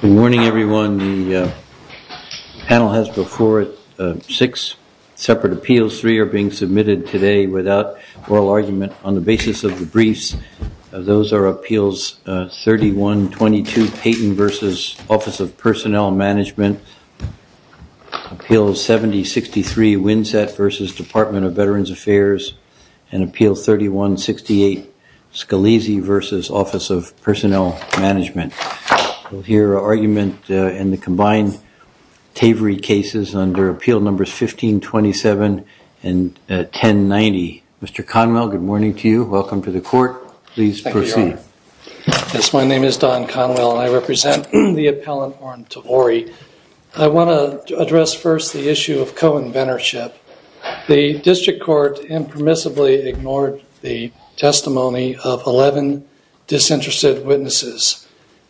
Good morning everyone. The panel has before it six separate appeals. Three are being submitted today without oral argument on the basis of the briefs. Those are Appeals 3122, Payton v. Office of Personnel Management, Appeals 7063, Winsett v. Department of Veterans Affairs, and Appeals 3168, Scalise v. Office of Personnel Management. We'll hear argument in the combined Tavory cases under Appeal Numbers 1527 and 1090. Mr. Conwell, good morning to you. Welcome to the court. Please proceed. Yes, my name is Don Conwell and I represent the appellant Warren Tavory. I want to address first the issue of co-inventorship. The district court impermissibly ignored the testimony of 11 disinterested witnesses,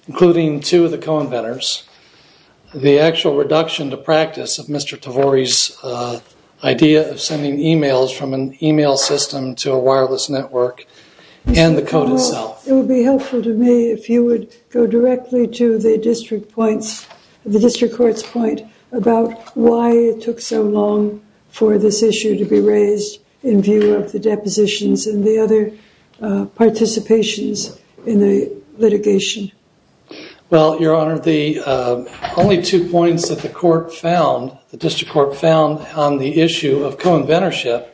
including two of the co-inventors. The actual reduction to practice of Mr. Tavory's idea of sending emails from an email system to a wireless network and the code itself. It would be helpful to me if you would go directly to the district courts point about why it took so long for this issue to be raised in view of the depositions and the other participations in the litigation. Well, your honor, the only two points that the court found, the district court found on the issue of co-inventorship,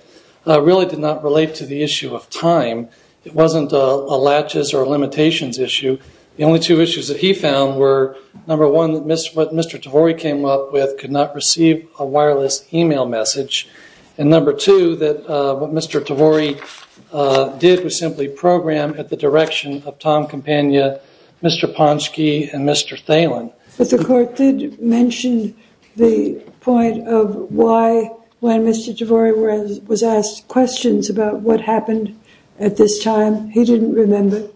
really did not relate to the issue of time. It wasn't a latches or limitations issue. The only two issues that he found were number one, what Mr. Tavory came up with could not receive a wireless email message. And number two, that what Mr. Tavory did was simply program at the direction of Tom Campagna, Mr. Ponsky, and Mr. Thalen. But the court did mention the point of why when Mr. Tavory was asked questions about what happened at this time, he didn't remember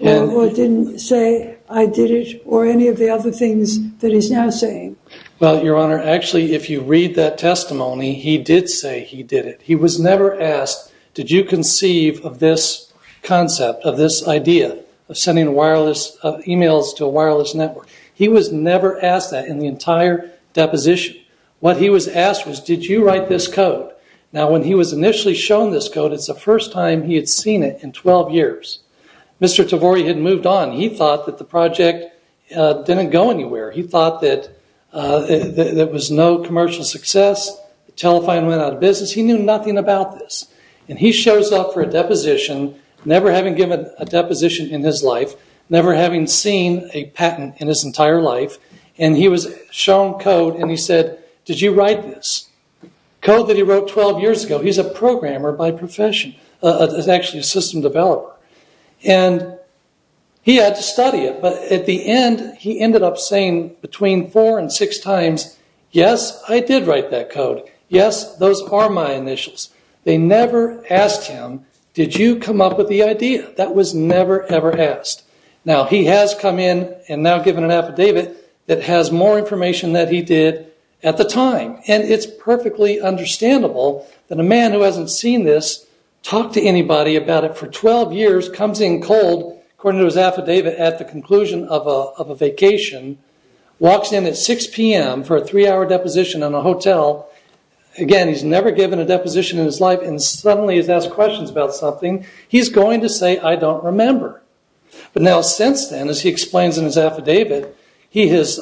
or didn't say I did it or any of the other things that he's now saying. Well, your honor, actually if you read that testimony, he did say he did it. He was never asked, did you conceive of this concept, of this idea of sending wireless emails to a wireless network. He was never asked that in the entire deposition. What he was asked was, did you write this code? Now when he was initially shown this code, it's the first time he had seen it in 12 years. Mr. Tavory had moved on. He thought that the project didn't go anywhere. He thought that there was no commercial success. The telephone went out of business. He knew nothing about this. And he shows up for a deposition, never having given a deposition in his life, never having seen a patent in his entire life, and he was shown code and he said, did you write this? Code that he wrote 12 years ago. He's a programmer by profession. He's actually a system developer. He had to study it, but at the end, he ended up saying between four and six times, yes, I did write that code. Yes, those are my initials. They never asked him, did you come up with the idea? That was never, ever asked. Now he has come in and now given an affidavit that has more information than he did at the time. And it's perfectly understandable that a man who hasn't seen this, talked to anybody about it for 12 years, comes in cold, according to his affidavit, at the conclusion of a vacation, walks in at 6 p.m. for a three-hour deposition in a hotel. Again, he's never given a deposition in his life and suddenly he's asked questions about something. He's going to say, I don't remember. But now since then, as he explains in his affidavit, he's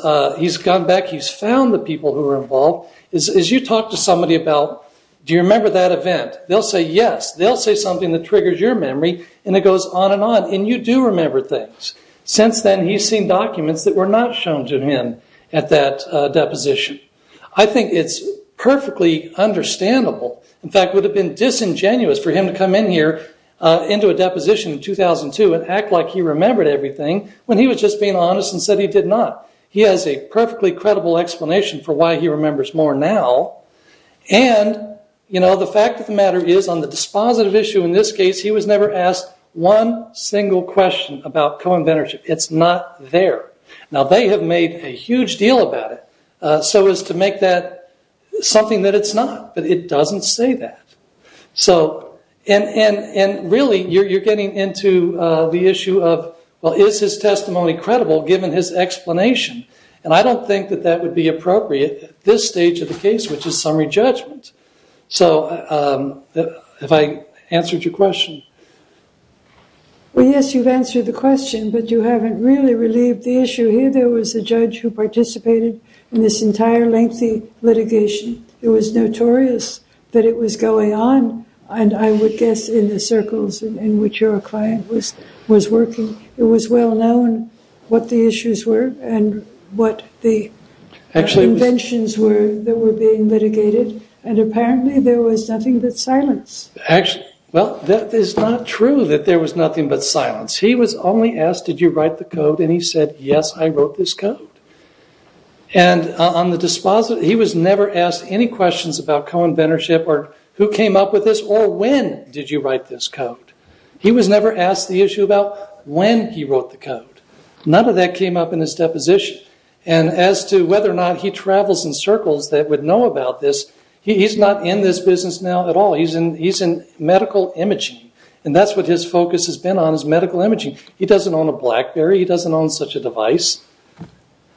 gone back, he's found the people who were involved. As you talk to somebody about, do you remember that event? They'll say yes. They'll say something that triggers your memory and it goes on and on. And you do remember things. Since then, he's seen documents that were not shown to him at that deposition. I think it's perfectly understandable. In fact, it would have been disingenuous for him to come in here into a deposition in 2002 and act like he remembered everything when he was just being honest and said he did not. He has a perfectly credible explanation for why he remembers more now. The fact of the matter is, on the dispositive issue in this case, he was never asked one single question about co-inventorship. It's not there. Now, they have made a huge deal about it so as to make that something that it's not. But it doesn't say that. And really, you're getting into the issue of, well, is his testimony credible given his explanation? And I don't think that that would be appropriate at this stage of the case, which is summary judgment. So, have I answered your question? Well, yes, you've answered the question, but you haven't really relieved the issue here. There was a judge who participated in this entire lengthy litigation. It was notorious that it was going on, and I would guess in the circles in which your client was working, it was well known what the issues were and what the conventions were that were being litigated. And apparently, there was nothing but silence. Actually, well, that is not true that there was nothing but silence. He was only asked, did you write the code? And he said, yes, I wrote this code. And on the dispositive, he was never asked any questions about co-inventorship or who came up with this or when did you write this code? He was never asked the issue about when he wrote the code. None of that came up in his deposition. And as to whether or not he travels in circles that would know about this, he's not in this business now at all. He's in medical imaging. And that's what his focus has been on, is medical imaging. He doesn't own a Blackberry. He doesn't own such a device.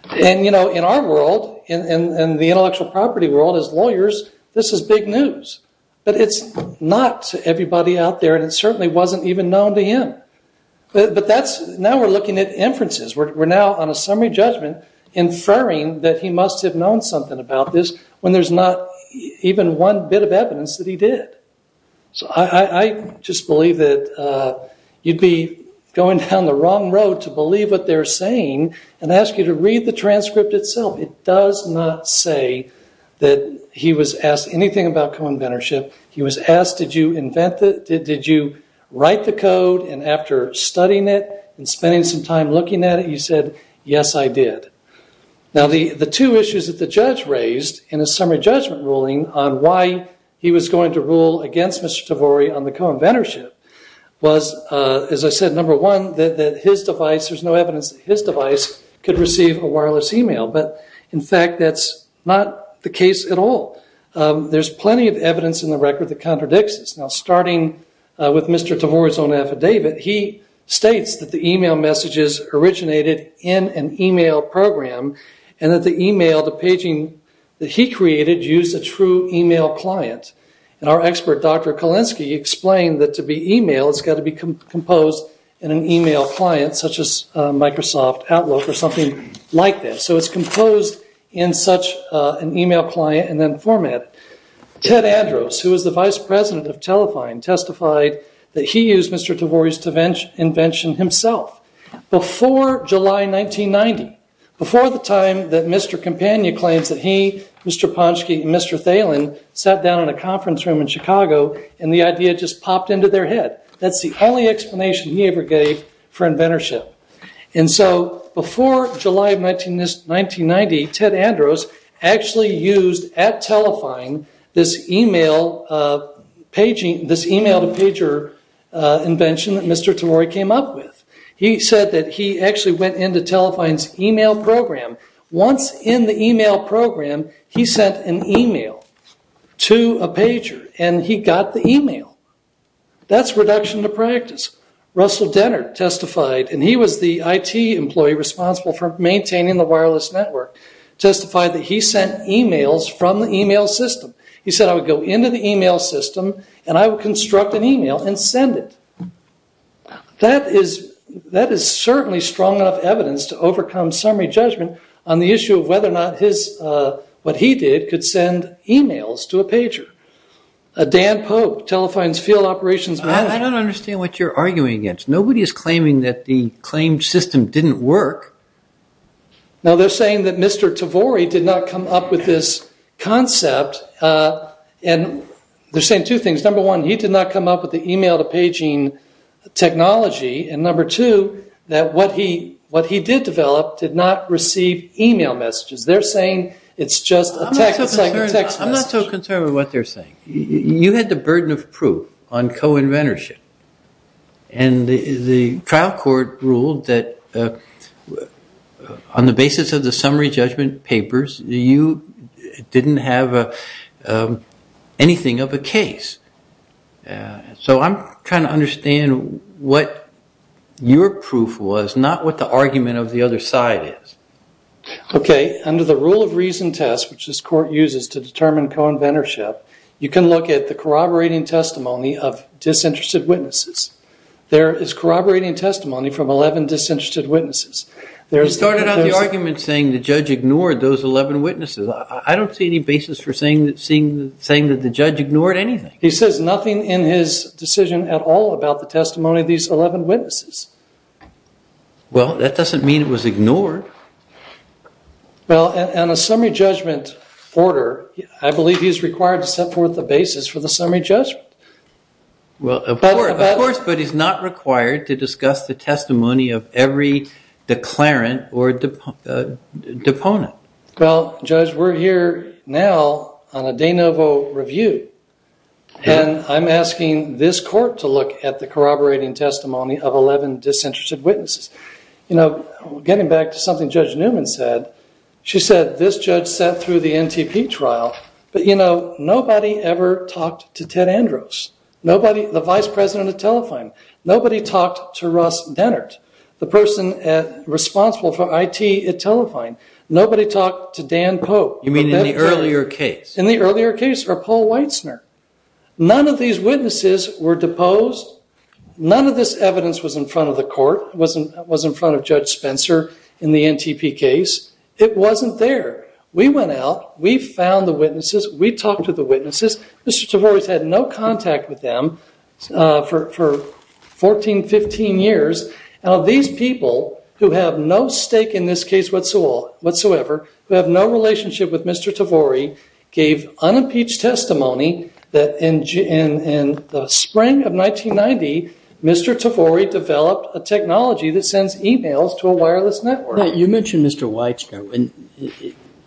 And in our world, in the intellectual property world, as lawyers, this is big news. But it's not to everybody out there, and it certainly wasn't even known to him. But now we're looking at inferences. We're now on a summary judgment inferring that he must have known something about this when there's not even one bit of evidence that he did. So I just believe that you'd be going down the wrong road to believe what they're saying and ask you to read the transcript itself. It does not say that he was asked anything about co-inventorship. He was asked, did you write the code? And after studying it and spending some time looking at it, he said, yes, I did. Now, the two issues that the judge raised in his summary judgment ruling on why he was going to rule against Mr. Tavori on the co-inventorship was, as I said, number one, that his device, there's no evidence that his device could receive a wireless email. But in fact, that's not the case at all. There's plenty of evidence in the record that contradicts this. Now, starting with Mr. Tavori's own affidavit, he states that the email messages originated in an email program and that the email, the paging that he created used a true email client. And our expert, Dr. Kalinsky, explained that to be email, it's got to be composed in an email client such as Microsoft Outlook or something like that. So it's composed in such an email client and then format. Ted Andrews, who was the vice president of Telefine, testified that he used Mr. Tavori's invention himself. Before July 1990, before the time that Mr. Campagna claims that he, Mr. Ponsky, and Mr. Thalen sat down in a conference room in Chicago and the idea just popped into their head. That's the only explanation he ever gave for inventorship. And so before July 1990, Ted Andrews actually used at Telefine this email to pager invention that Mr. Tavori came up with. He said that he actually went into Telefine's email program. Once in the email program, he sent an email to a pager and he got the email. That's reduction to practice. Russell Dennard testified, and he was the IT employee responsible for maintaining the wireless network, testified that he sent emails from the email system. He said, I would go into the email system and I would construct an email and send it. That is certainly strong enough evidence to overcome summary judgment on the issue of whether or not what he did could send emails to a pager. Dan Pope, Telefine's field operations manager. I don't understand what you're arguing against. Nobody is claiming that the claimed system didn't work. Now they're saying that Mr. Tavori did not come up with this concept. And they're saying two things. Number one, he did not come up with the email to paging technology. And number two, that what he did develop did not receive email messages. They're saying it's just a text message. I'm not so concerned with what they're saying. You had the burden of proof on co-inventorship. And the trial court ruled that on the basis of the summary judgment papers, you didn't have anything of a case. So I'm trying to understand what your proof was, not what the argument of the other side is. Okay, under the rule of reason test, which this court uses to determine co-inventorship, you can look at the corroborating testimony of disinterested witnesses. There is corroborating testimony from 11 disinterested witnesses. You started out the argument saying the judge ignored those 11 witnesses. I don't see any basis for saying that the judge ignored anything. He says nothing in his decision at all about the testimony of these 11 witnesses. Well, that doesn't mean it was ignored. Well, in a summary judgment order, I believe he's required to set forth the basis for the summary judgment. Well, of course, but he's not required to discuss the testimony of every declarant or deponent. Well, Judge, we're here now on a de novo review, and I'm asking this court to look at the corroborating testimony of 11 disinterested witnesses. Getting back to something Judge Newman said, she said this judge sat through the NTP trial, but nobody ever talked to Ted Andros, the vice president of Telefine. Nobody talked to Russ Dennert, the person responsible for IT at Telefine. Nobody talked to Dan Pope. You mean in the earlier case? In the earlier case, or Paul Weitzner. None of these witnesses were deposed. None of this evidence was in front of the court, was in front of Judge Spencer in the NTP case. It wasn't there. We went out. We found the witnesses. We talked to the witnesses. Mr. Tavori's had no contact with them for 14, 15 years. And of these people who have no stake in this case whatsoever, who have no relationship with Mr. Tavori, gave unimpeached testimony that in the spring of 1990, Mr. Tavori developed a technology that sends emails to a wireless network. You mentioned Mr. Weitzner.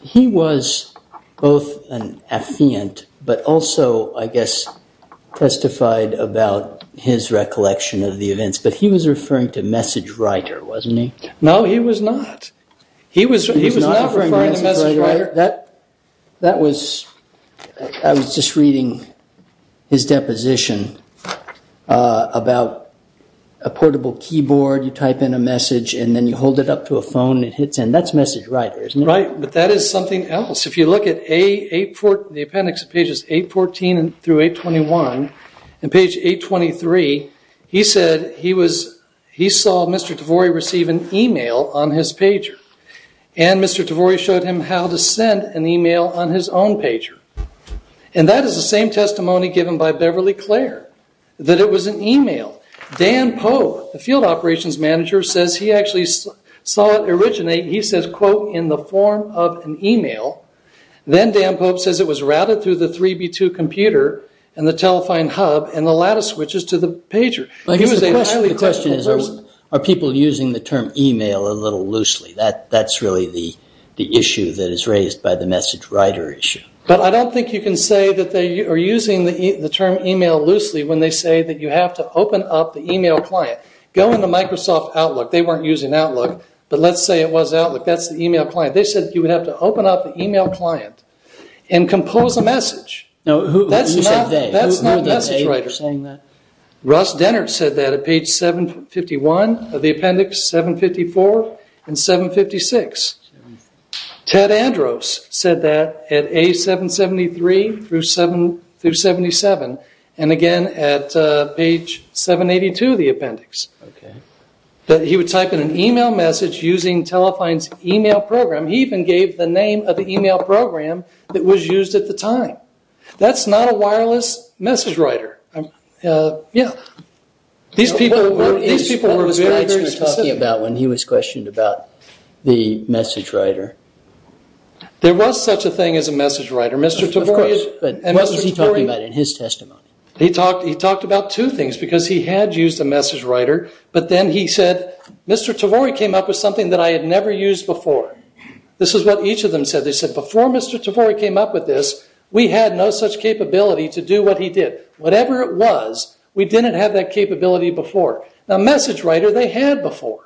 He was both an affiant, but also I guess testified about his recollection of the events. But he was referring to MessageWriter, wasn't he? No, he was not. He was not referring to MessageWriter. I was just reading his deposition about a portable keyboard. You type in a message and then you hold it up to a phone and it hits in. That's MessageWriter, isn't it? Right, but that is something else. If you look at the appendix of pages 814 through 821, in page 823, he said he saw Mr. Tavori receive an email on his pager. And Mr. Tavori showed him how to send an email on his own pager. And that is the same testimony given by Beverly Clare, that it was an email. Dan Pope, the field operations manager, says he actually saw it originate, he says, quote, in the form of an email. Then Dan Pope says it was routed through the 3B2 computer and the Telefine hub and the lattice switches to the pager. The question is, are people using the term email a little loosely? That's really the issue that is raised by the MessageWriter issue. But I don't think you can say that they are using the term email loosely when they say that you have to open up the email client. Go into Microsoft Outlook. They weren't using Outlook, but let's say it was Outlook. That's the email client. They said you would have to open up the email client and compose a message. Who said that? That's not MessageWriter. Ross Denner said that at page 751 of the appendix, 754 and 756. Ted Andros said that at A773 through 77 and again at page 782 of the appendix. He would type in an email message using Telefine's email program. He even gave the name of the email program that was used at the time. That's not a wireless MessageWriter. Yeah. These people were very, very specific. What were these guys talking about when he was questioned about the MessageWriter? There was such a thing as a MessageWriter. Of course, but what was he talking about in his testimony? He talked about two things because he had used a MessageWriter, but then he said, Mr. Tavori came up with something that I had never used before. This is what each of them said. They said, before Mr. Tavori came up with this, we had no such capability to do what he did. Whatever it was, we didn't have that capability before. Now MessageWriter, they had before.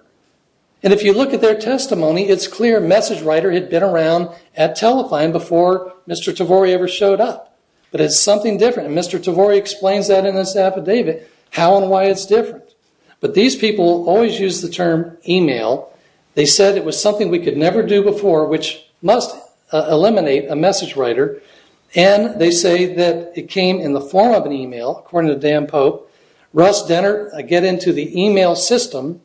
If you look at their testimony, it's clear MessageWriter had been around at Telefine before Mr. Tavori ever showed up. But it's something different. Mr. Tavori explains that in his affidavit, how and why it's different. But these people always used the term email. They said it was something we could never do before, which must eliminate a MessageWriter. And they say that it came in the form of an email, according to Dan Pope. Russ Dennert, I get into the email system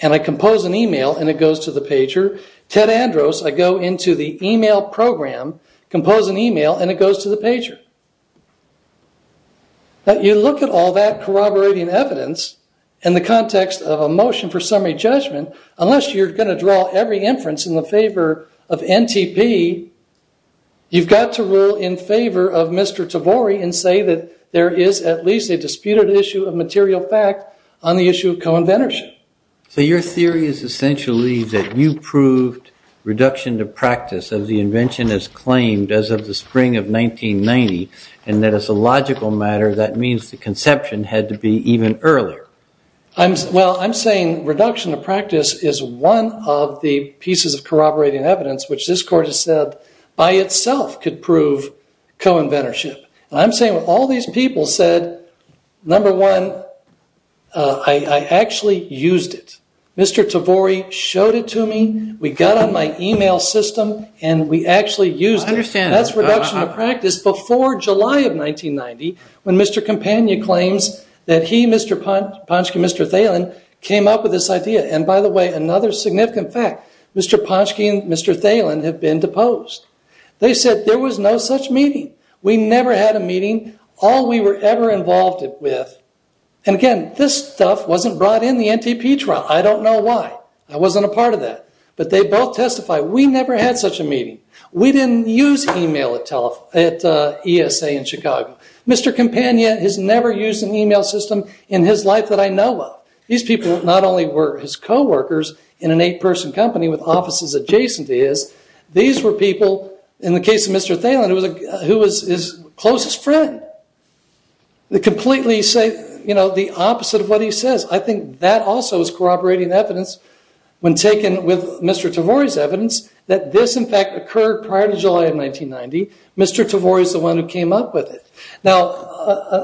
and I compose an email and it goes to the pager. Ted Andros, I go into the email program, compose an email, and it goes to the pager. But you look at all that corroborating evidence in the context of a motion for summary judgment. Unless you're going to draw every inference in the favor of NTP, you've got to rule in favor of Mr. Tavori and say that there is at least a disputed issue of material fact on the issue of co-inventorship. So your theory is essentially that you proved reduction to practice of the invention as claimed as of the spring of 1990 and that as a logical matter, that means the conception had to be even earlier. Well, I'm saying reduction to practice is one of the pieces of corroborating evidence which this court has said by itself could prove co-inventorship. I'm saying all these people said, number one, I actually used it. Mr. Tavori showed it to me, we got on my email system, and we actually used it. That's reduction to practice before July of 1990 when Mr. Campagna claims that he, Mr. Ponsky, Mr. Thelen, came up with this idea. And by the way, another significant fact, Mr. Ponsky and Mr. Thelen have been deposed. They said there was no such meeting. We never had a meeting, all we were ever involved with. And again, this stuff wasn't brought in the NTP trial, I don't know why. I wasn't a part of that. But they both testified, we never had such a meeting. We didn't use email at ESA in Chicago. Mr. Campagna has never used an email system in his life that I know of. These people not only were his co-workers in an eight person company with offices adjacent to his, these were people, in the case of Mr. Thelen, who was his closest friend. They completely say the opposite of what he says. I think that also is corroborating evidence when taken with Mr. Tavori's evidence, that this in fact occurred prior to July of 1990. Mr. Tavori is the one who came up with it. Now,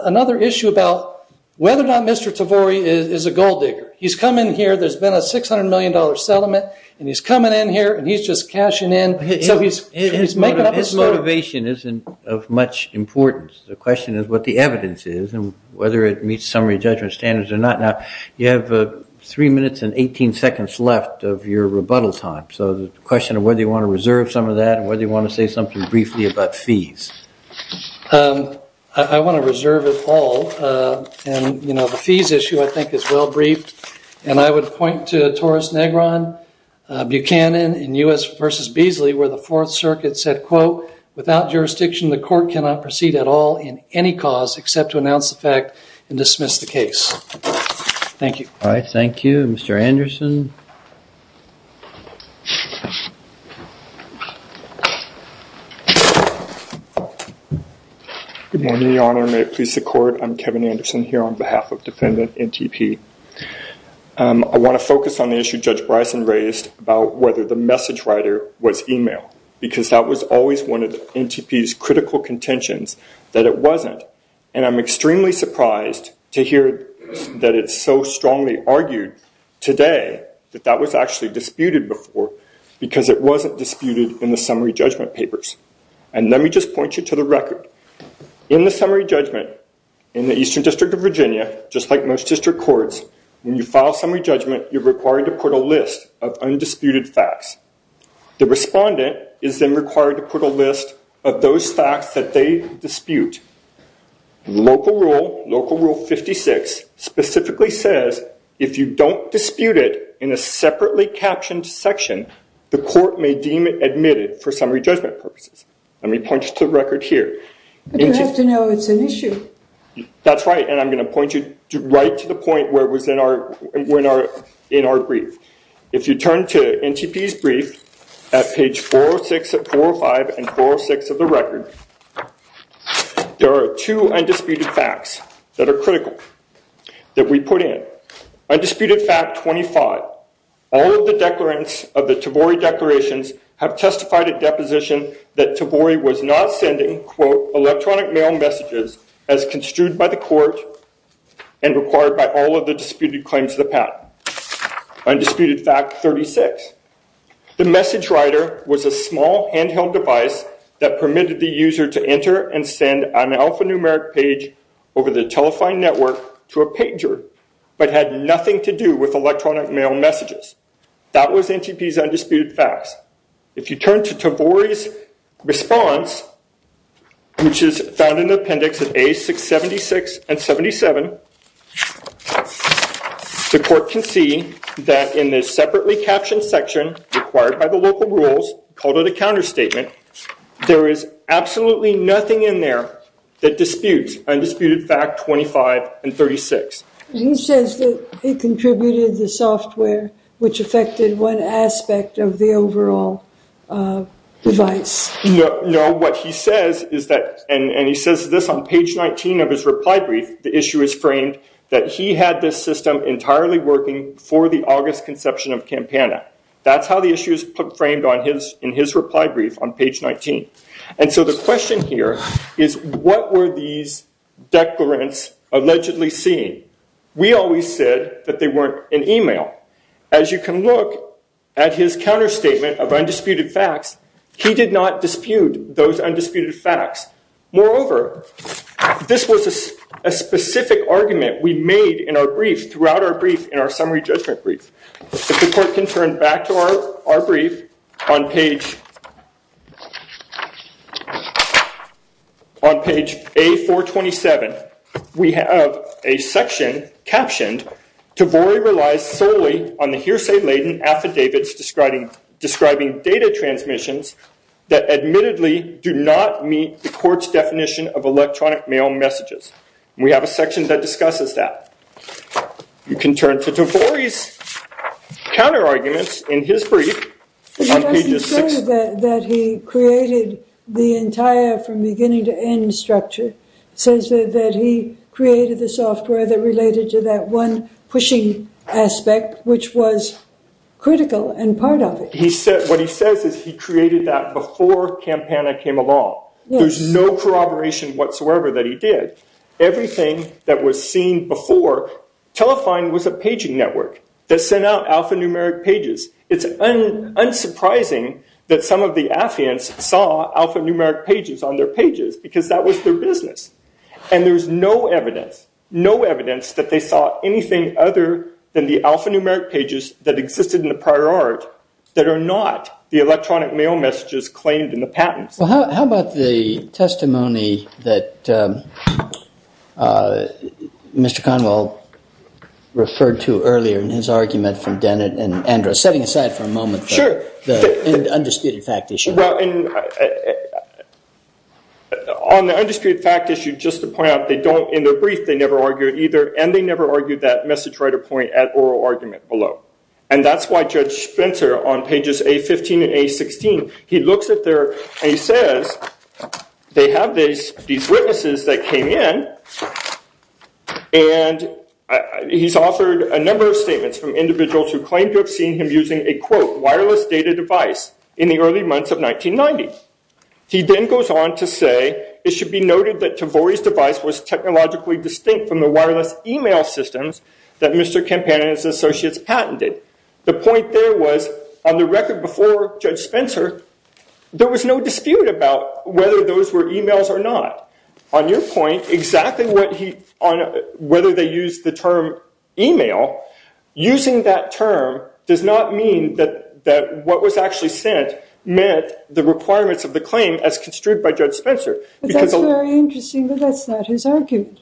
another issue about whether or not Mr. Tavori is a gold digger. He's come in here, there's been a $600 million settlement, and he's coming in here, and he's just cashing in. His motivation isn't of much importance. The question is what the evidence is, and whether it meets summary judgment standards or not. Now, you have three minutes and 18 seconds left of your rebuttal time. So the question of whether you want to reserve some of that, and whether you want to say something briefly about fees. I want to reserve it all. And the fees issue I think is well briefed. And I would point to Taurus Negron, Buchanan, and U.S. v. Beasley, where the Fourth Circuit said, quote, without jurisdiction the court cannot proceed at all in any cause except to announce the fact and dismiss the case. Thank you. All right, thank you. Mr. Anderson. Good morning, Your Honor. May it please the court, I'm Kevin Anderson here on behalf of defendant NTP. I want to focus on the issue Judge Bryson raised about whether the message writer was email, because that was always one of the NTP's critical contentions, that it wasn't. And I'm extremely surprised to hear that it's so strongly argued today that that was actually disputed before, because it wasn't disputed in the summary judgment papers. And let me just point you to the record. In the summary judgment, in the Eastern District of Virginia, just like most district courts, when you file summary judgment, you're required to put a list of undisputed facts. The respondent is then required to put a list of those facts that they dispute. Local Rule, Local Rule 56, specifically says if you don't dispute it in a separately captioned section, the court may deem it admitted for summary judgment purposes. Let me point you to the record here. But you have to know it's an issue. That's right. And I'm going to point you right to the point where it was in our brief. If you turn to NTP's brief, at page 405 and 406 of the record, there are two undisputed facts that are critical that we put in. Undisputed fact 25. All of the declarants of the Tavori declarations have testified at deposition that Tavori was not sending, quote, electronic mail messages as construed by the court and required by all of the disputed claims of the patent. Undisputed fact 36. The message writer was a small handheld device that permitted the user to enter and send an alphanumeric page over the telephone network to a pager but had nothing to do with electronic mail messages. That was NTP's undisputed facts. If you turn to Tavori's response, which is found in the appendix of A676 and 77, the court can see that in the separately captioned section required by the local rules, called it a counterstatement, there is absolutely nothing in there that disputes undisputed fact 25 and 36. He says that it contributed the software which affected one aspect of the overall device. No, what he says is that, and he says this on page 19 of his reply brief, the issue is framed that he had this system entirely working for the August conception of Campana. That's how the issue is framed in his reply brief on page 19. And so the question here is what were these declarants allegedly seeing? We always said that they weren't in email. As you can look at his counterstatement of undisputed facts, they did not dispute those undisputed facts. Moreover, this was a specific argument we made in our brief, throughout our brief, in our summary judgment brief. If the court can turn back to our brief, on page A427, we have a section captioned, Tavori relies solely on the hearsay laden affidavits describing data transmissions that admittedly do not meet the court's definition of electronic mail messages. We have a section that discusses that. You can turn to Tavori's counterarguments in his brief on page 6. He doesn't say that he created the entire from beginning to end structure. He says that he created the software that related to that one pushing aspect, which was critical and part of it. What he says is he created that before Campana came along. There's no corroboration whatsoever that he did. Everything that was seen before, Telefine was a paging network that sent out alphanumeric pages. It's unsurprising that some of the affiants saw alphanumeric pages on their pages because that was their business. And there's no evidence, no evidence that they saw anything other than the alphanumeric pages that existed in the prior art that are not the electronic mail messages that were in the patents. Well, how about the testimony that Mr. Conwell referred to earlier in his argument from Dennett and Andra. Setting aside for a moment the undisputed fact issue. Well, on the undisputed fact issue, just to point out, in their brief they never argued either and they never argued that message writer point at oral argument below. And that's why Judge Spencer on pages A15 and A16, he looks at there and he says they have these witnesses that came in and he's offered a number of statements from individuals who claim to have seen him using a quote wireless data device in the early months of 1990. He then goes on to say it should be noted that Tavori's device was technologically distinct from the wireless email systems that Mr. Campana and his associates patented. The point there was on the record before Judge Spencer there was no dispute about whether those were emails or not. On your point, whether they used the term email, using that term does not mean that what was actually sent meant the requirements of the claim as construed by Judge Spencer. That's very interesting, but that's not his argument.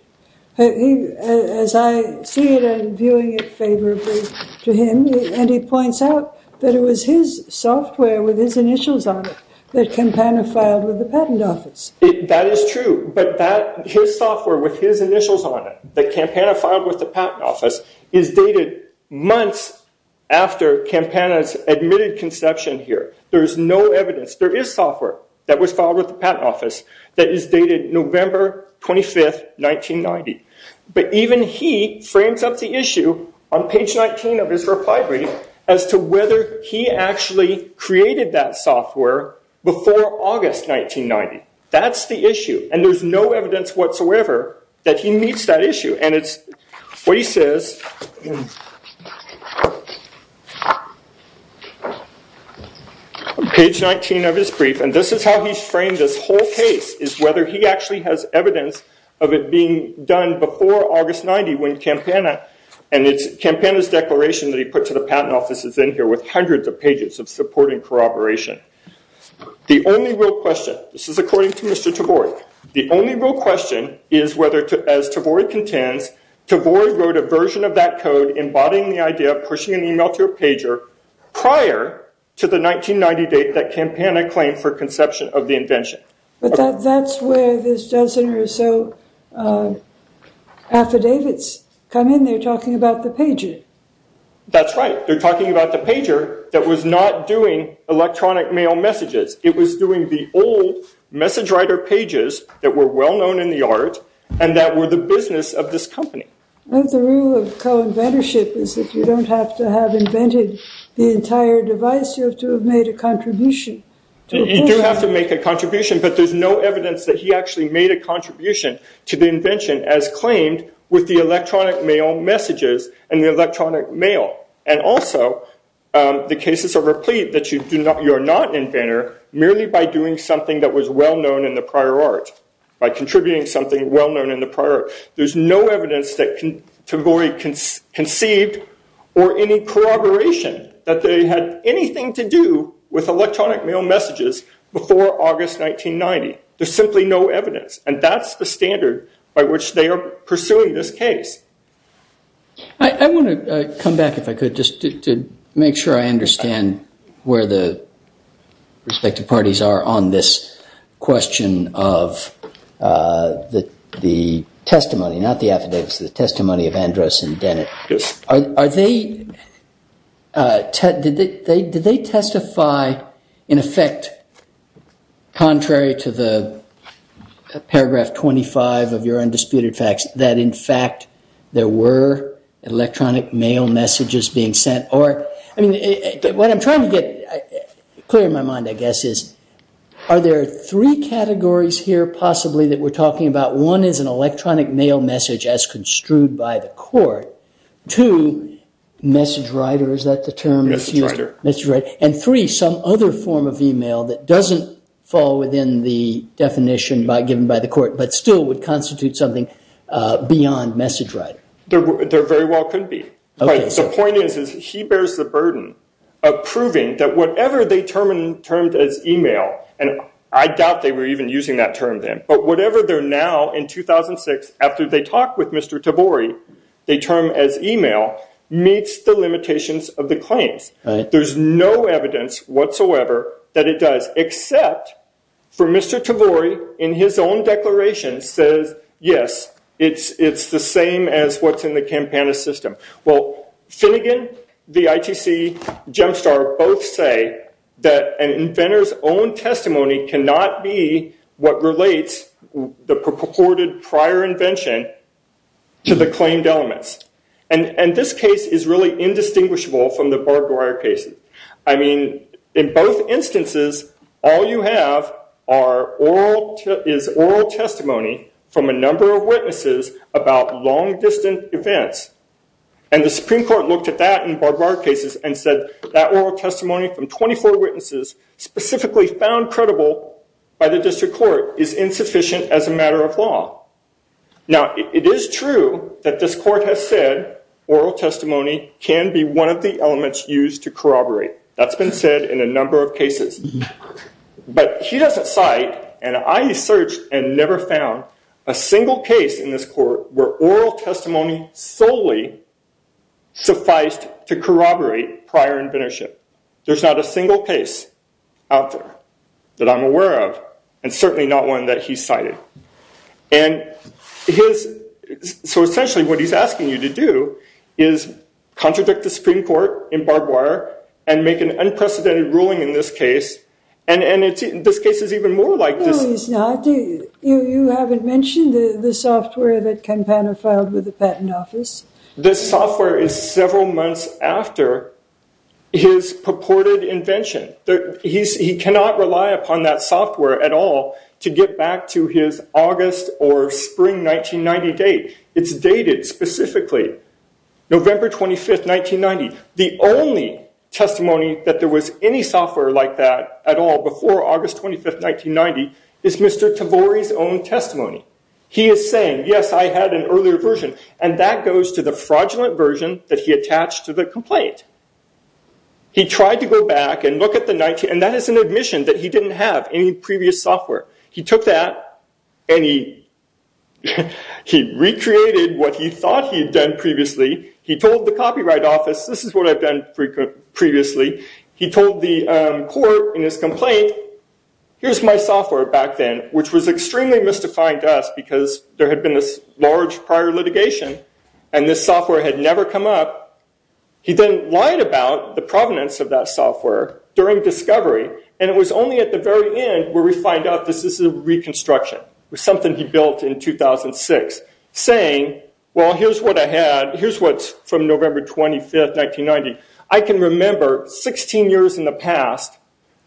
As I see it, I've been viewing it favorably to him and he points out that it was his software with his initials on it that Campana filed with the Patent Office. That is true, but his software with his initials on it that Campana filed with the Patent Office is dated months after Campana's admitted conception here. There is no evidence, there is software that was filed with the Patent Office that is dated November 25, 1990. Even he frames up the issue on page 19 of his reply brief as to whether he actually created that software before August 1990. That's the issue and there's no evidence whatsoever that he meets that issue. It's what he says on page 19 of his brief and this is how he's framed this whole case is whether he actually has evidence before August 1990 when Campana's declaration that he put to the Patent Office is in here with hundreds of pages of supporting corroboration. The only real question, this is according to Mr. Tavori, the only real question is whether, as Tavori contends, Tavori wrote a version of that code embodying the idea of pushing an email to a pager prior to the 1990 date that Campana claimed for conception of the invention. Affidavits come in and they're talking about the pager. That's right. They're talking about the pager that was not doing electronic mail messages. It was doing the old message writer pages that were well known in the art and that were the business of this company. The rule of co-inventorship is that you don't have to have invented the entire device. You have to have made a contribution. You do have to make a contribution but there's no evidence that he actually made a contribution to the invention as claimed with the electronic mail messages and the electronic mail. Also, the cases are replete that you're not an inventor merely by doing something that was well known in the prior art, by contributing something well known in the prior art. There's no evidence that Tavori conceived or any corroboration that they had anything to do with electronic mail messages before August 1990. There's simply no evidence and that's the standard by which they are pursuing this case. I want to come back if I could just to make sure I understand where the respective parties are on this question of the testimony, not the evidence, the testimony of Andros and Dennett. Yes. Are they, did they testify in effect contrary to the paragraph 25 of your undisputed facts that in fact there were electronic mail messages being sent or, what I'm trying to get clear in my mind I guess is are there three categories here possibly that we're talking about? One is an electronic mail message as construed by the court. Two, message writer, is that the term that's used? Message writer. And three, some other form of email that doesn't fall within the definition given by the court but still would constitute something beyond message writer. There very well could be. The point is he bears the burden of proving that whatever they termed as email, and I doubt they were even using that term then, but whatever they're now in 2006 after they talk with Mr. Tabori they term as email meets the limitations of the claims. There's no evidence whatsoever that it does except for Mr. Tabori in his own declaration says yes, it's the same as what's in the Campana system. Well, Finnegan, the ITC gem star, both say that an inventor's own testimony cannot be what relates the purported prior invention to the claimed elements. And this case is really indistinguishable from the Barb Dwyer case. I mean, in both instances all you have is oral testimony from a number of witnesses about long distant events. And the Supreme Court looked at that in Barb Dwyer cases and said that oral testimony from 24 witnesses specifically found credible by the district court is insufficient as a matter of law. Now, it is true that this court has said oral testimony can be one of the elements used to corroborate. That's been said in a number of cases. But he doesn't cite and I searched and never found a single case in this court where oral testimony solely sufficed to corroborate prior invention. There's not a single case out there that I'm aware of and certainly not one that he cited. So essentially what he's asking you to do is contradict the Supreme Court in Barb Dwyer and make an unprecedented ruling in this case and this case is even more like this. No, he's not. You haven't mentioned the software that Campana filed with the Patent Office? This software is several months after his purported invention. He cannot rely upon that software at all to get back to his August or Spring 1990 date. It's dated specifically November 25, 1990. The only testimony that there was any software like that at all before August 25, 1990 is Mr. Tavori's own testimony. He is saying yes, I had an earlier version and that goes to the fraudulent version that he attached to the complaint. He tried to go back and look at the 19 and that is an admission that he didn't have any previous software. He took that and he he recreated what he thought he had done previously. He told the copyright office this is what I've done previously. He told the court in his complaint here's my software back then which was extremely mystifying to us because there had been this large prior litigation and this software had never come up. He then lied about the provenance of that software during discovery and it was only at the very end where we find out this is a reconstruction with something he built in 2006 saying well here's what I had here's what's from November 25th 1990. I can remember 16 years in the past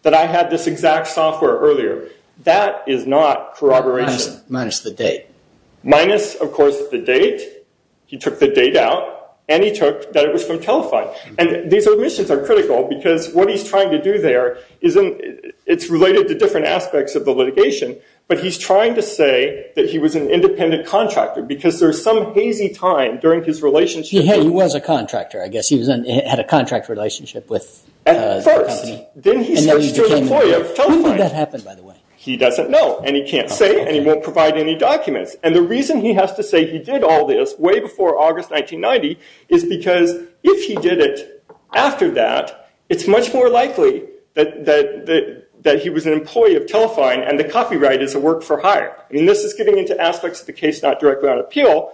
that I had this exact software earlier. That is not corroboration. Minus the date. Minus of course the date. He took the date out and he took that it was from Telify and these admissions are critical because what he's trying to do there isn't it's related to different aspects of the litigation but he's trying to say that he was an independent contractor because there's some hazy time during his relationship He was a contractor I guess. He had a contract relationship with the company. At first. Then he switched to an employee of Telify. When did that happen by the way? He doesn't know and he can't say and he won't provide any documents and the reason he has to say he did all this way before August 1990 is because if he did it after that it's much more likely that he was an employee of Telify and the copyright is a work for hire. This is getting into aspects of the case not directly on appeal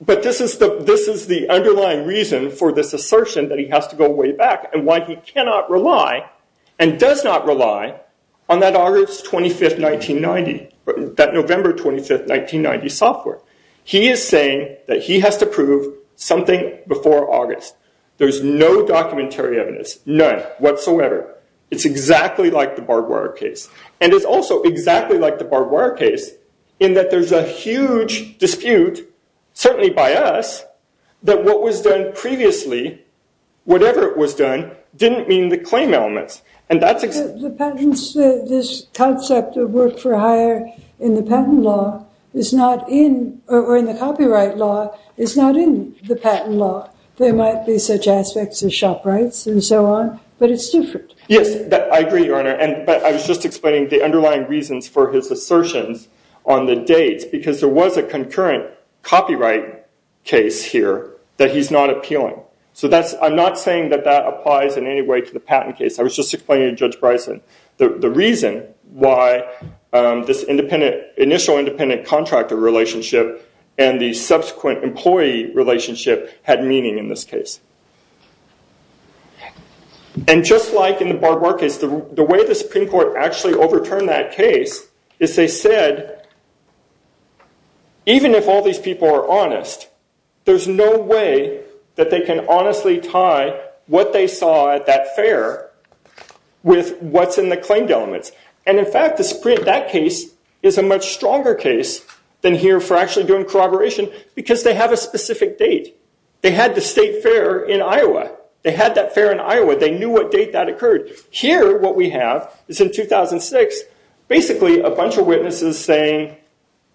but this is the underlying reason for this assertion that he has to go way back and why he cannot rely and does not rely on that August 25th 1990 that November 25th 1990 software. He is saying that he has to prove something before August. There's no documentary evidence none whatsoever. It's exactly like the barbed wire case and it's also exactly like the barbed wire case in that there's a huge dispute certainly by us that what was done previously whatever it was done didn't mean the claim elements and that's The patents this concept of work for hire in the patent law is not in or in the copyright law is not in the patent law. There might be such aspects as shop rights and so on but it's different. Yes I agree your honor but I was just explaining the underlying reasons for his assertions on the dates because there was a concurrent copyright case here that he's not appealing. So that's I'm not saying that that applies in any way to the patent case. I was just explaining to Judge Bryson the reason why this independent initial independent contractor relationship and the subsequent employee relationship had meaning in this case. And just like in the barbed wire case the way the Supreme Court actually overturned that case is they said even if all these people are honest there's no way that they can honestly tie what they saw at that fair with what's in the claimed elements. And in fact the Supreme that case is a much stronger case than here for actually doing corroboration because they have a specific date. They had the state fair in Iowa. They had that fair in Iowa. They knew what date that occurred. Here what we have is in 2006 basically a bunch of witnesses saying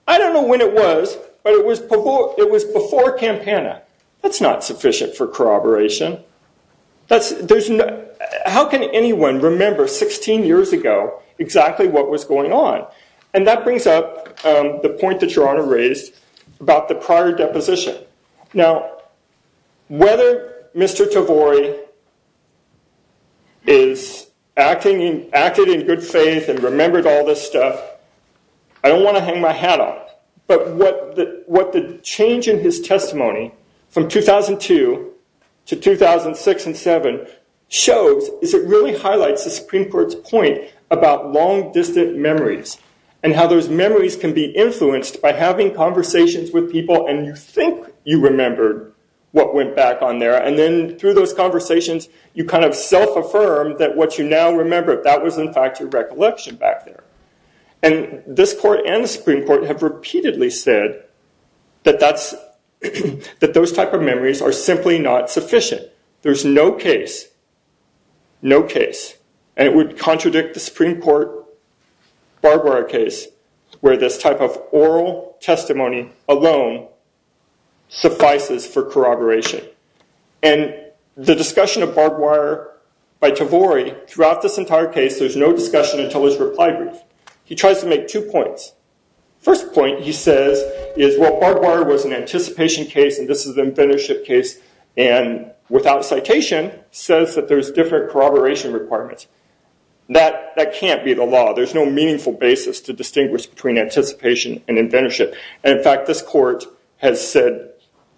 I don't know when it was but it was before Campana. That's not sufficient for corroboration. That's there's no how can anyone remember 16 years ago exactly what was going on. And that brings up the point that Your Honor raised about the prior deposition. Now whether Mr. Tavori is acting acted in good faith and remembered all this stuff I don't want to hang my hat on. But what the change in his testimony from 2002 to 2006 and 2007 shows is it really highlights the Supreme Court's point about long distant memories. And how those memories can be influenced by having conversations with people and you think you remembered what went back on there and then through those conversations you kind of self-affirm that what you now remember that was in fact a recollection back there. And this court and the Supreme Court have repeatedly said that that's that those type of memories are simply not sufficient. There's no case no case and it would contradict the Supreme Court Barbara case where this type of oral testimony alone suffices for corroboration. And the discussion of Barbara by Tavori throughout this entire case there's no discussion until his reply brief. He tries to make two points. First point he says is well Barbara was an anticipation case and this is an inventorship case and without citation says that there's different corroboration requirements. That can't be the law. There's no meaningful basis to distinguish between anticipation and inventorship. And in fact this court has said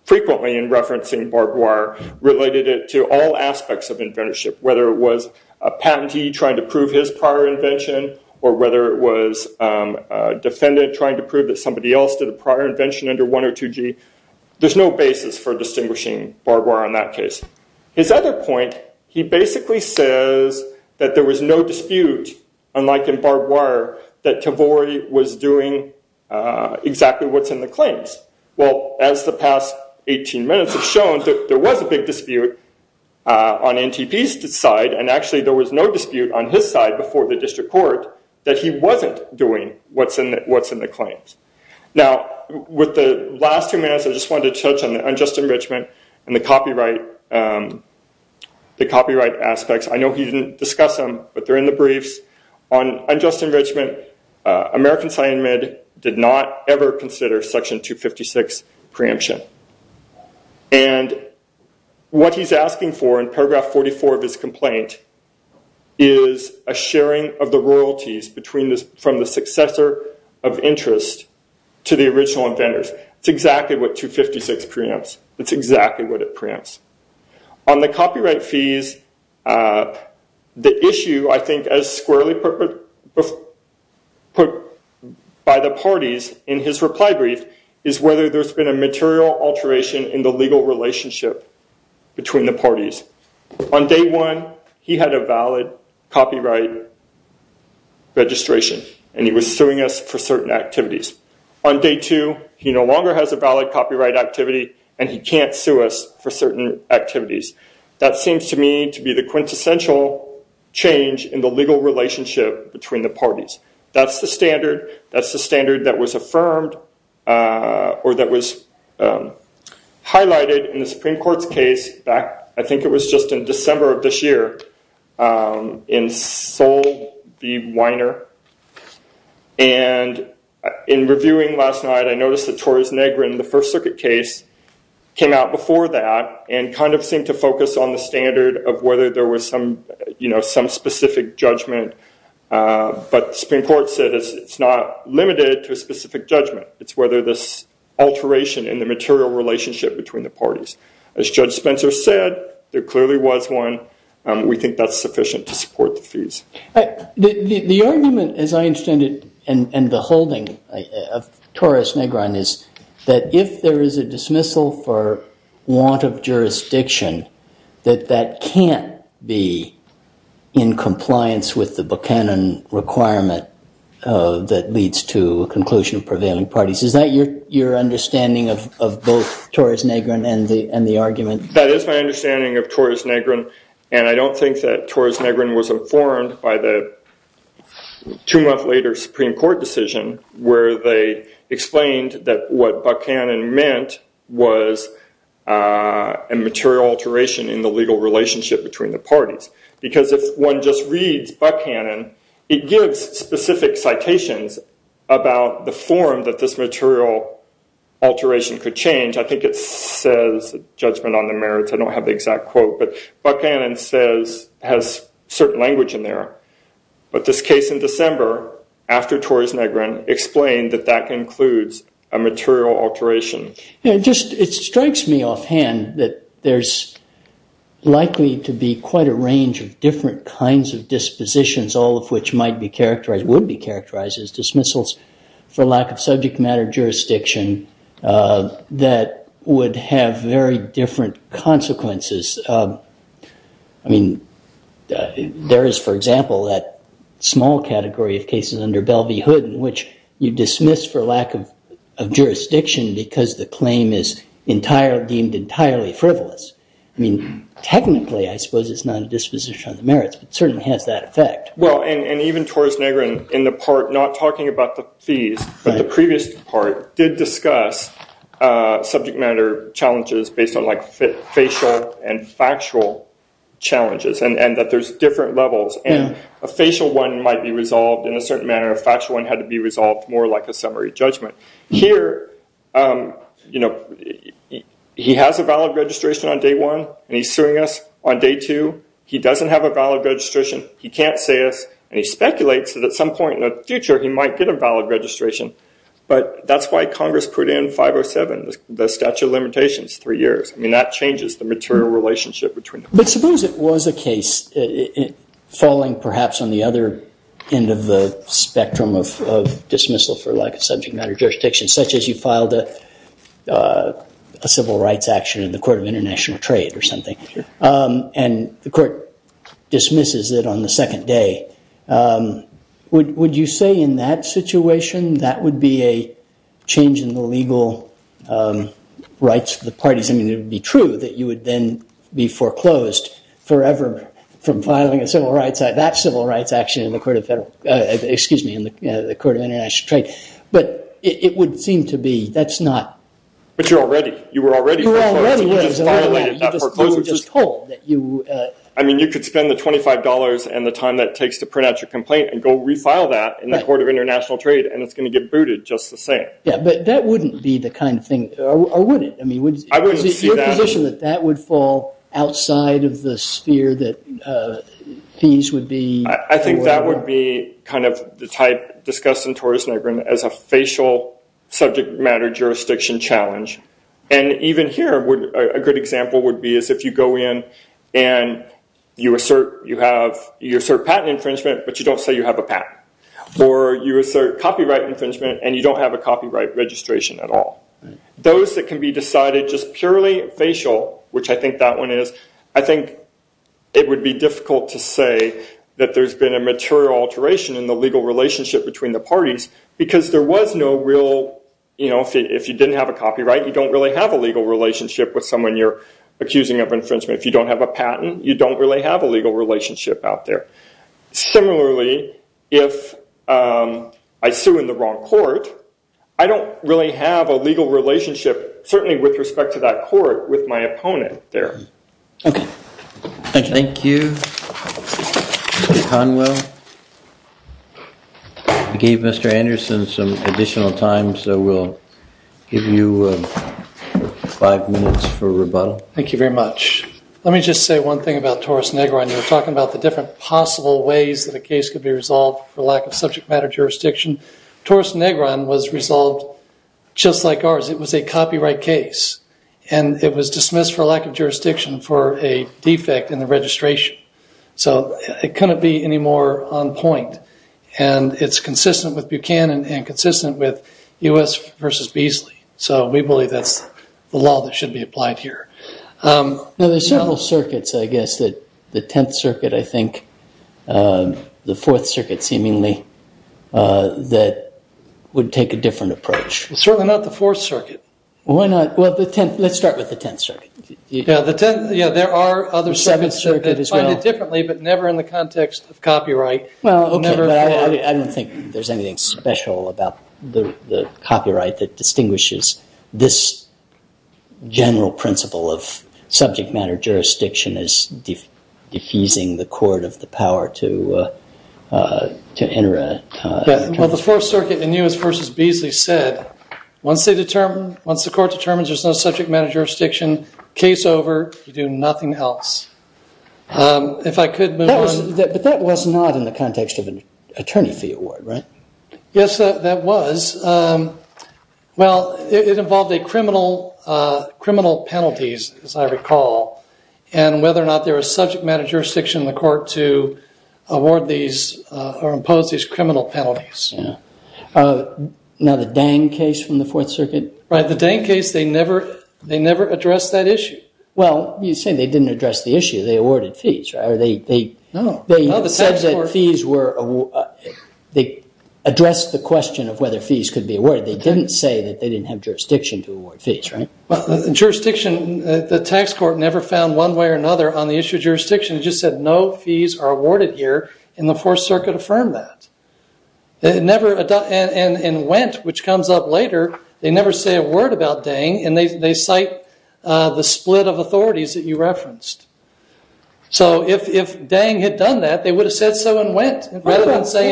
frequently in referencing Barbara related it to all aspects of inventorship. Whether it was a patentee trying to prove his prior invention or whether it was a defendant trying to prove that somebody else did a prior invention under 102G there's no basis for distinguishing Barbara in that case. His other point he basically says that there was no dispute unlike in Barbara that Tavori was doing exactly what's in the claims. Well as the past 18 minutes have shown that there was a big dispute on NTP's side and actually there was no dispute on his side before the district court that he wasn't doing what's in the claims. Now with the last two minutes I just wanted to touch on the unjust enrichment and the copyright aspects. I know he didn't discuss them but they're in the briefs. On unjust enrichment American Science Med did not ever consider section 256 preemption. And what he's asking for in paragraph 44 of his complaint is a sharing of the royalties from the successor of interest to the original inventors. It's exactly what 256 preempts. It's exactly what it preempts. On the copyright fees the issue squarely put by the parties in his reply brief is whether there's been a material alteration in the legal relationship between the parties. On day one he had a valid copyright registration and he was suing us for certain activities. On day two he no longer has a valid copyright activity and he can't sue us for certain activities. That seems to me to be the quintessential change in the legal relationship between the parties. That's the standard. That's the standard that was affirmed or that was highlighted in the Supreme Court's case. I think it was just in December of this year. And in reviewing last night I noticed the first circuit case came out before that and seemed to focus on the standard of whether there was some specific judgment. But the Supreme Court said it's not limited to a specific judgment. It's whether this alteration in the material relationship between the parties. As Judge Spencer said there clearly was one. We think that's sufficient to support the fees. The argument as I understand it and the holding of Torres Negron is that if there is a dismissal for want of jurisdiction that that can't be in compliance with the Buchanan requirement that leads to a conclusion of prevailing parties. Is that your understanding of both Torres Negron and the argument? That is my understanding of Torres Negron and I don't think that Torres Negron was informed by the two parties. They explained that what Buchanan meant was a material alteration in the legal relationship between the parties. Because if one just reads Buchanan it gives specific citations about the form that this material alteration could change. I think it says judgment on the merits. I don't have the exact quote but Buchanan has certain language in there. But this case in December after Torres Negron explained that that includes a material alteration. It strikes me offhand that there's likely to be quite a range of different kinds of dispositions all of which would be characterized as dismissals for lack of subject matter jurisdiction that would have very different consequences. I mean there is for example that small category of cases under Bell v. Hood in which you dismiss for lack of jurisdiction because the claim is deemed entirely frivolous. I mean technically I suppose it's not a disposition on the merits but it certainly has that effect. Even Torres Negron did discuss subject matter challenges based on facial and factual challenges and that there's different levels. A facial one might be resolved more like a summary judgment. Here he has a valid registration on day one and he's suing us on day two. He doesn't have a valid registration. He can't say us and he speculates that at some point in the future he might get a valid registration but that's why Congress put in 507 the statute of limitations three years. I mean that's the statute of limitations. The court dismisses it on the second day. Would you say in that situation that would be a change in the legal rights of the parties? I mean it would be true that you would then be foreclosed forever from filing a civil rights act. That civil rights action in the court of international trade but seem to be that's not. But you were already foreclosed. I mean you could spend the $25 and the time that takes to print out your complaint and go refile that in the court of international trade and that's going to get booted just the same. That wouldn't be the kind of thing. Your position is that that would fall outside of the sphere. I think that would be the type discussed as a facial subject matter jurisdiction challenge. Even here a good example is if you assert patent infringement but you don't say you have a patent or you assert copyright infringement and you don't have a copyright registration at all. Those that can be decided purely facial I think it would be difficult to say there's been a material alteration in the legal relationship out there. Similarly if I sue in the wrong court I don't really have a legal relationship certainly with respect to that court with my opponent there. Thank you. Mr. Conwell. I gave Mr. Anderson some additional time so we'll give you five minutes for rebuttal. Thank you very much. Let me just say one thing about Taurus Negron. Taurus Negron was resolved just like ours. It was a copyright case and it was dismissed for a lack of jurisdiction for a defect in the registration. It couldn't be any more on point. It's consistent with Buchanan and consistent with U.S. versus Beasley. We believe that's the law that should be applied here. There are several circuits, I guess, the tenth circuit, I think, the fourth circuit seemingly that would take a different approach. Certainly not the fourth circuit. Let's start with the first circuit. The first circuit in U.S. versus Beasley said, once the court determines there's no subject matter jurisdiction, case over, you do nothing else. If I could move on. But that was not in the context of an attorney fee award, right? Yes, that was. Well, it involved a criminal penalties, as I recall, and whether or not there was subject matter jurisdiction in the court to award these or impose these criminal penalties. Now the Dang case from the fourth circuit? They never addressed that issue. Well, you say they didn't address the issue. They awarded fees, right? They addressed the question of whether fees could be awarded. They didn't say they didn't have jurisdiction to award fees, right? The tax court never found one way or another on the issue of jurisdiction. They just said no fees are awarded here and the fourth circuit affirmed that. They never say a word about Dang and they cite the split of authorities that you referenced. So if Dang had done that they would have said so and that's they They didn't say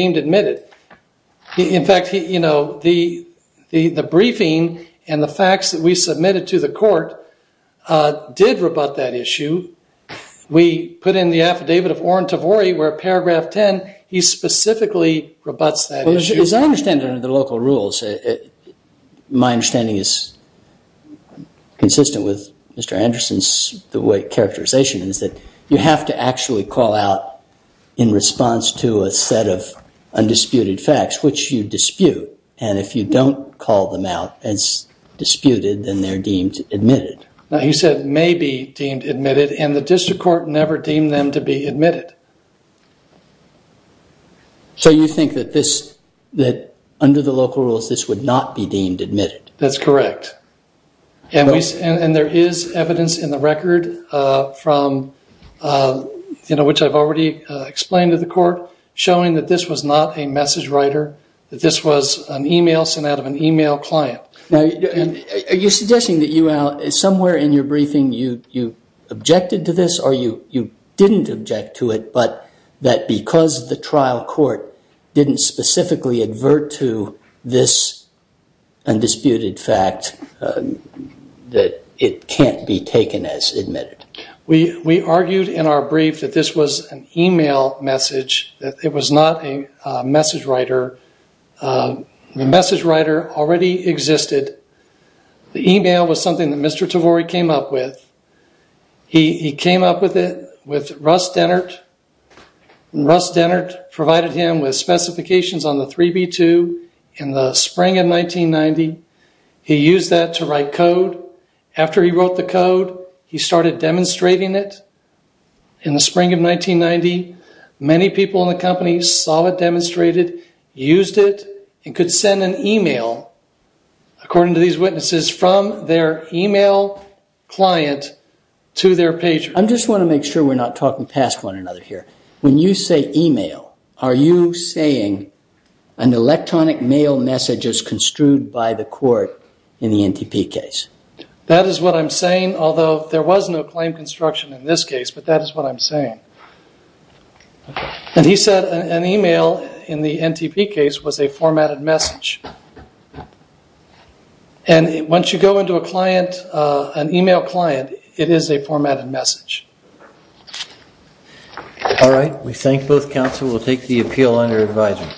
that they could dismiss the plaintiff because the court concluded that the plaintiff's claim is frivolous. You can either dismiss for failure to dismiss plaintiff dismiss for failure to dismiss the plaintiff. So you have to actually call out in response to a set of undisputed facts which you dispute and if you don't call them out as disputed then they would not be deemed admitted. That's correct. And there is evidence in the record from which I've already explained to the court showing that this was not a message writer, that this was an email sent out of an email client. Are you suggesting that somewhere in your briefing you objected to this or you didn't object to it but that because the trial court didn't specifically advert to this undisputed fact that it can't be taken as admitted? We argued in our brief that this was an email message, that it was not a message writer. The message writer already existed. The email was something that Mr. Tavori came up with. He came up with it with Russ Dennert. Russ Dennert provided him with specifications on the 3B2 in the spring of 1990. He used that to write code. After he wrote the code, he used it and could send an email, according to these witnesses, from their email client to their patron. I just want to make sure we're not talking past one another here. When you say email, are you saying an electronic mail message is construed by the court in the NTP case? That is what I'm saying. He said an email in the NTP case was a formatted message. Once you go into an email client, it is a formatted message. We thank both counsel. We'll take the appeal under advisement.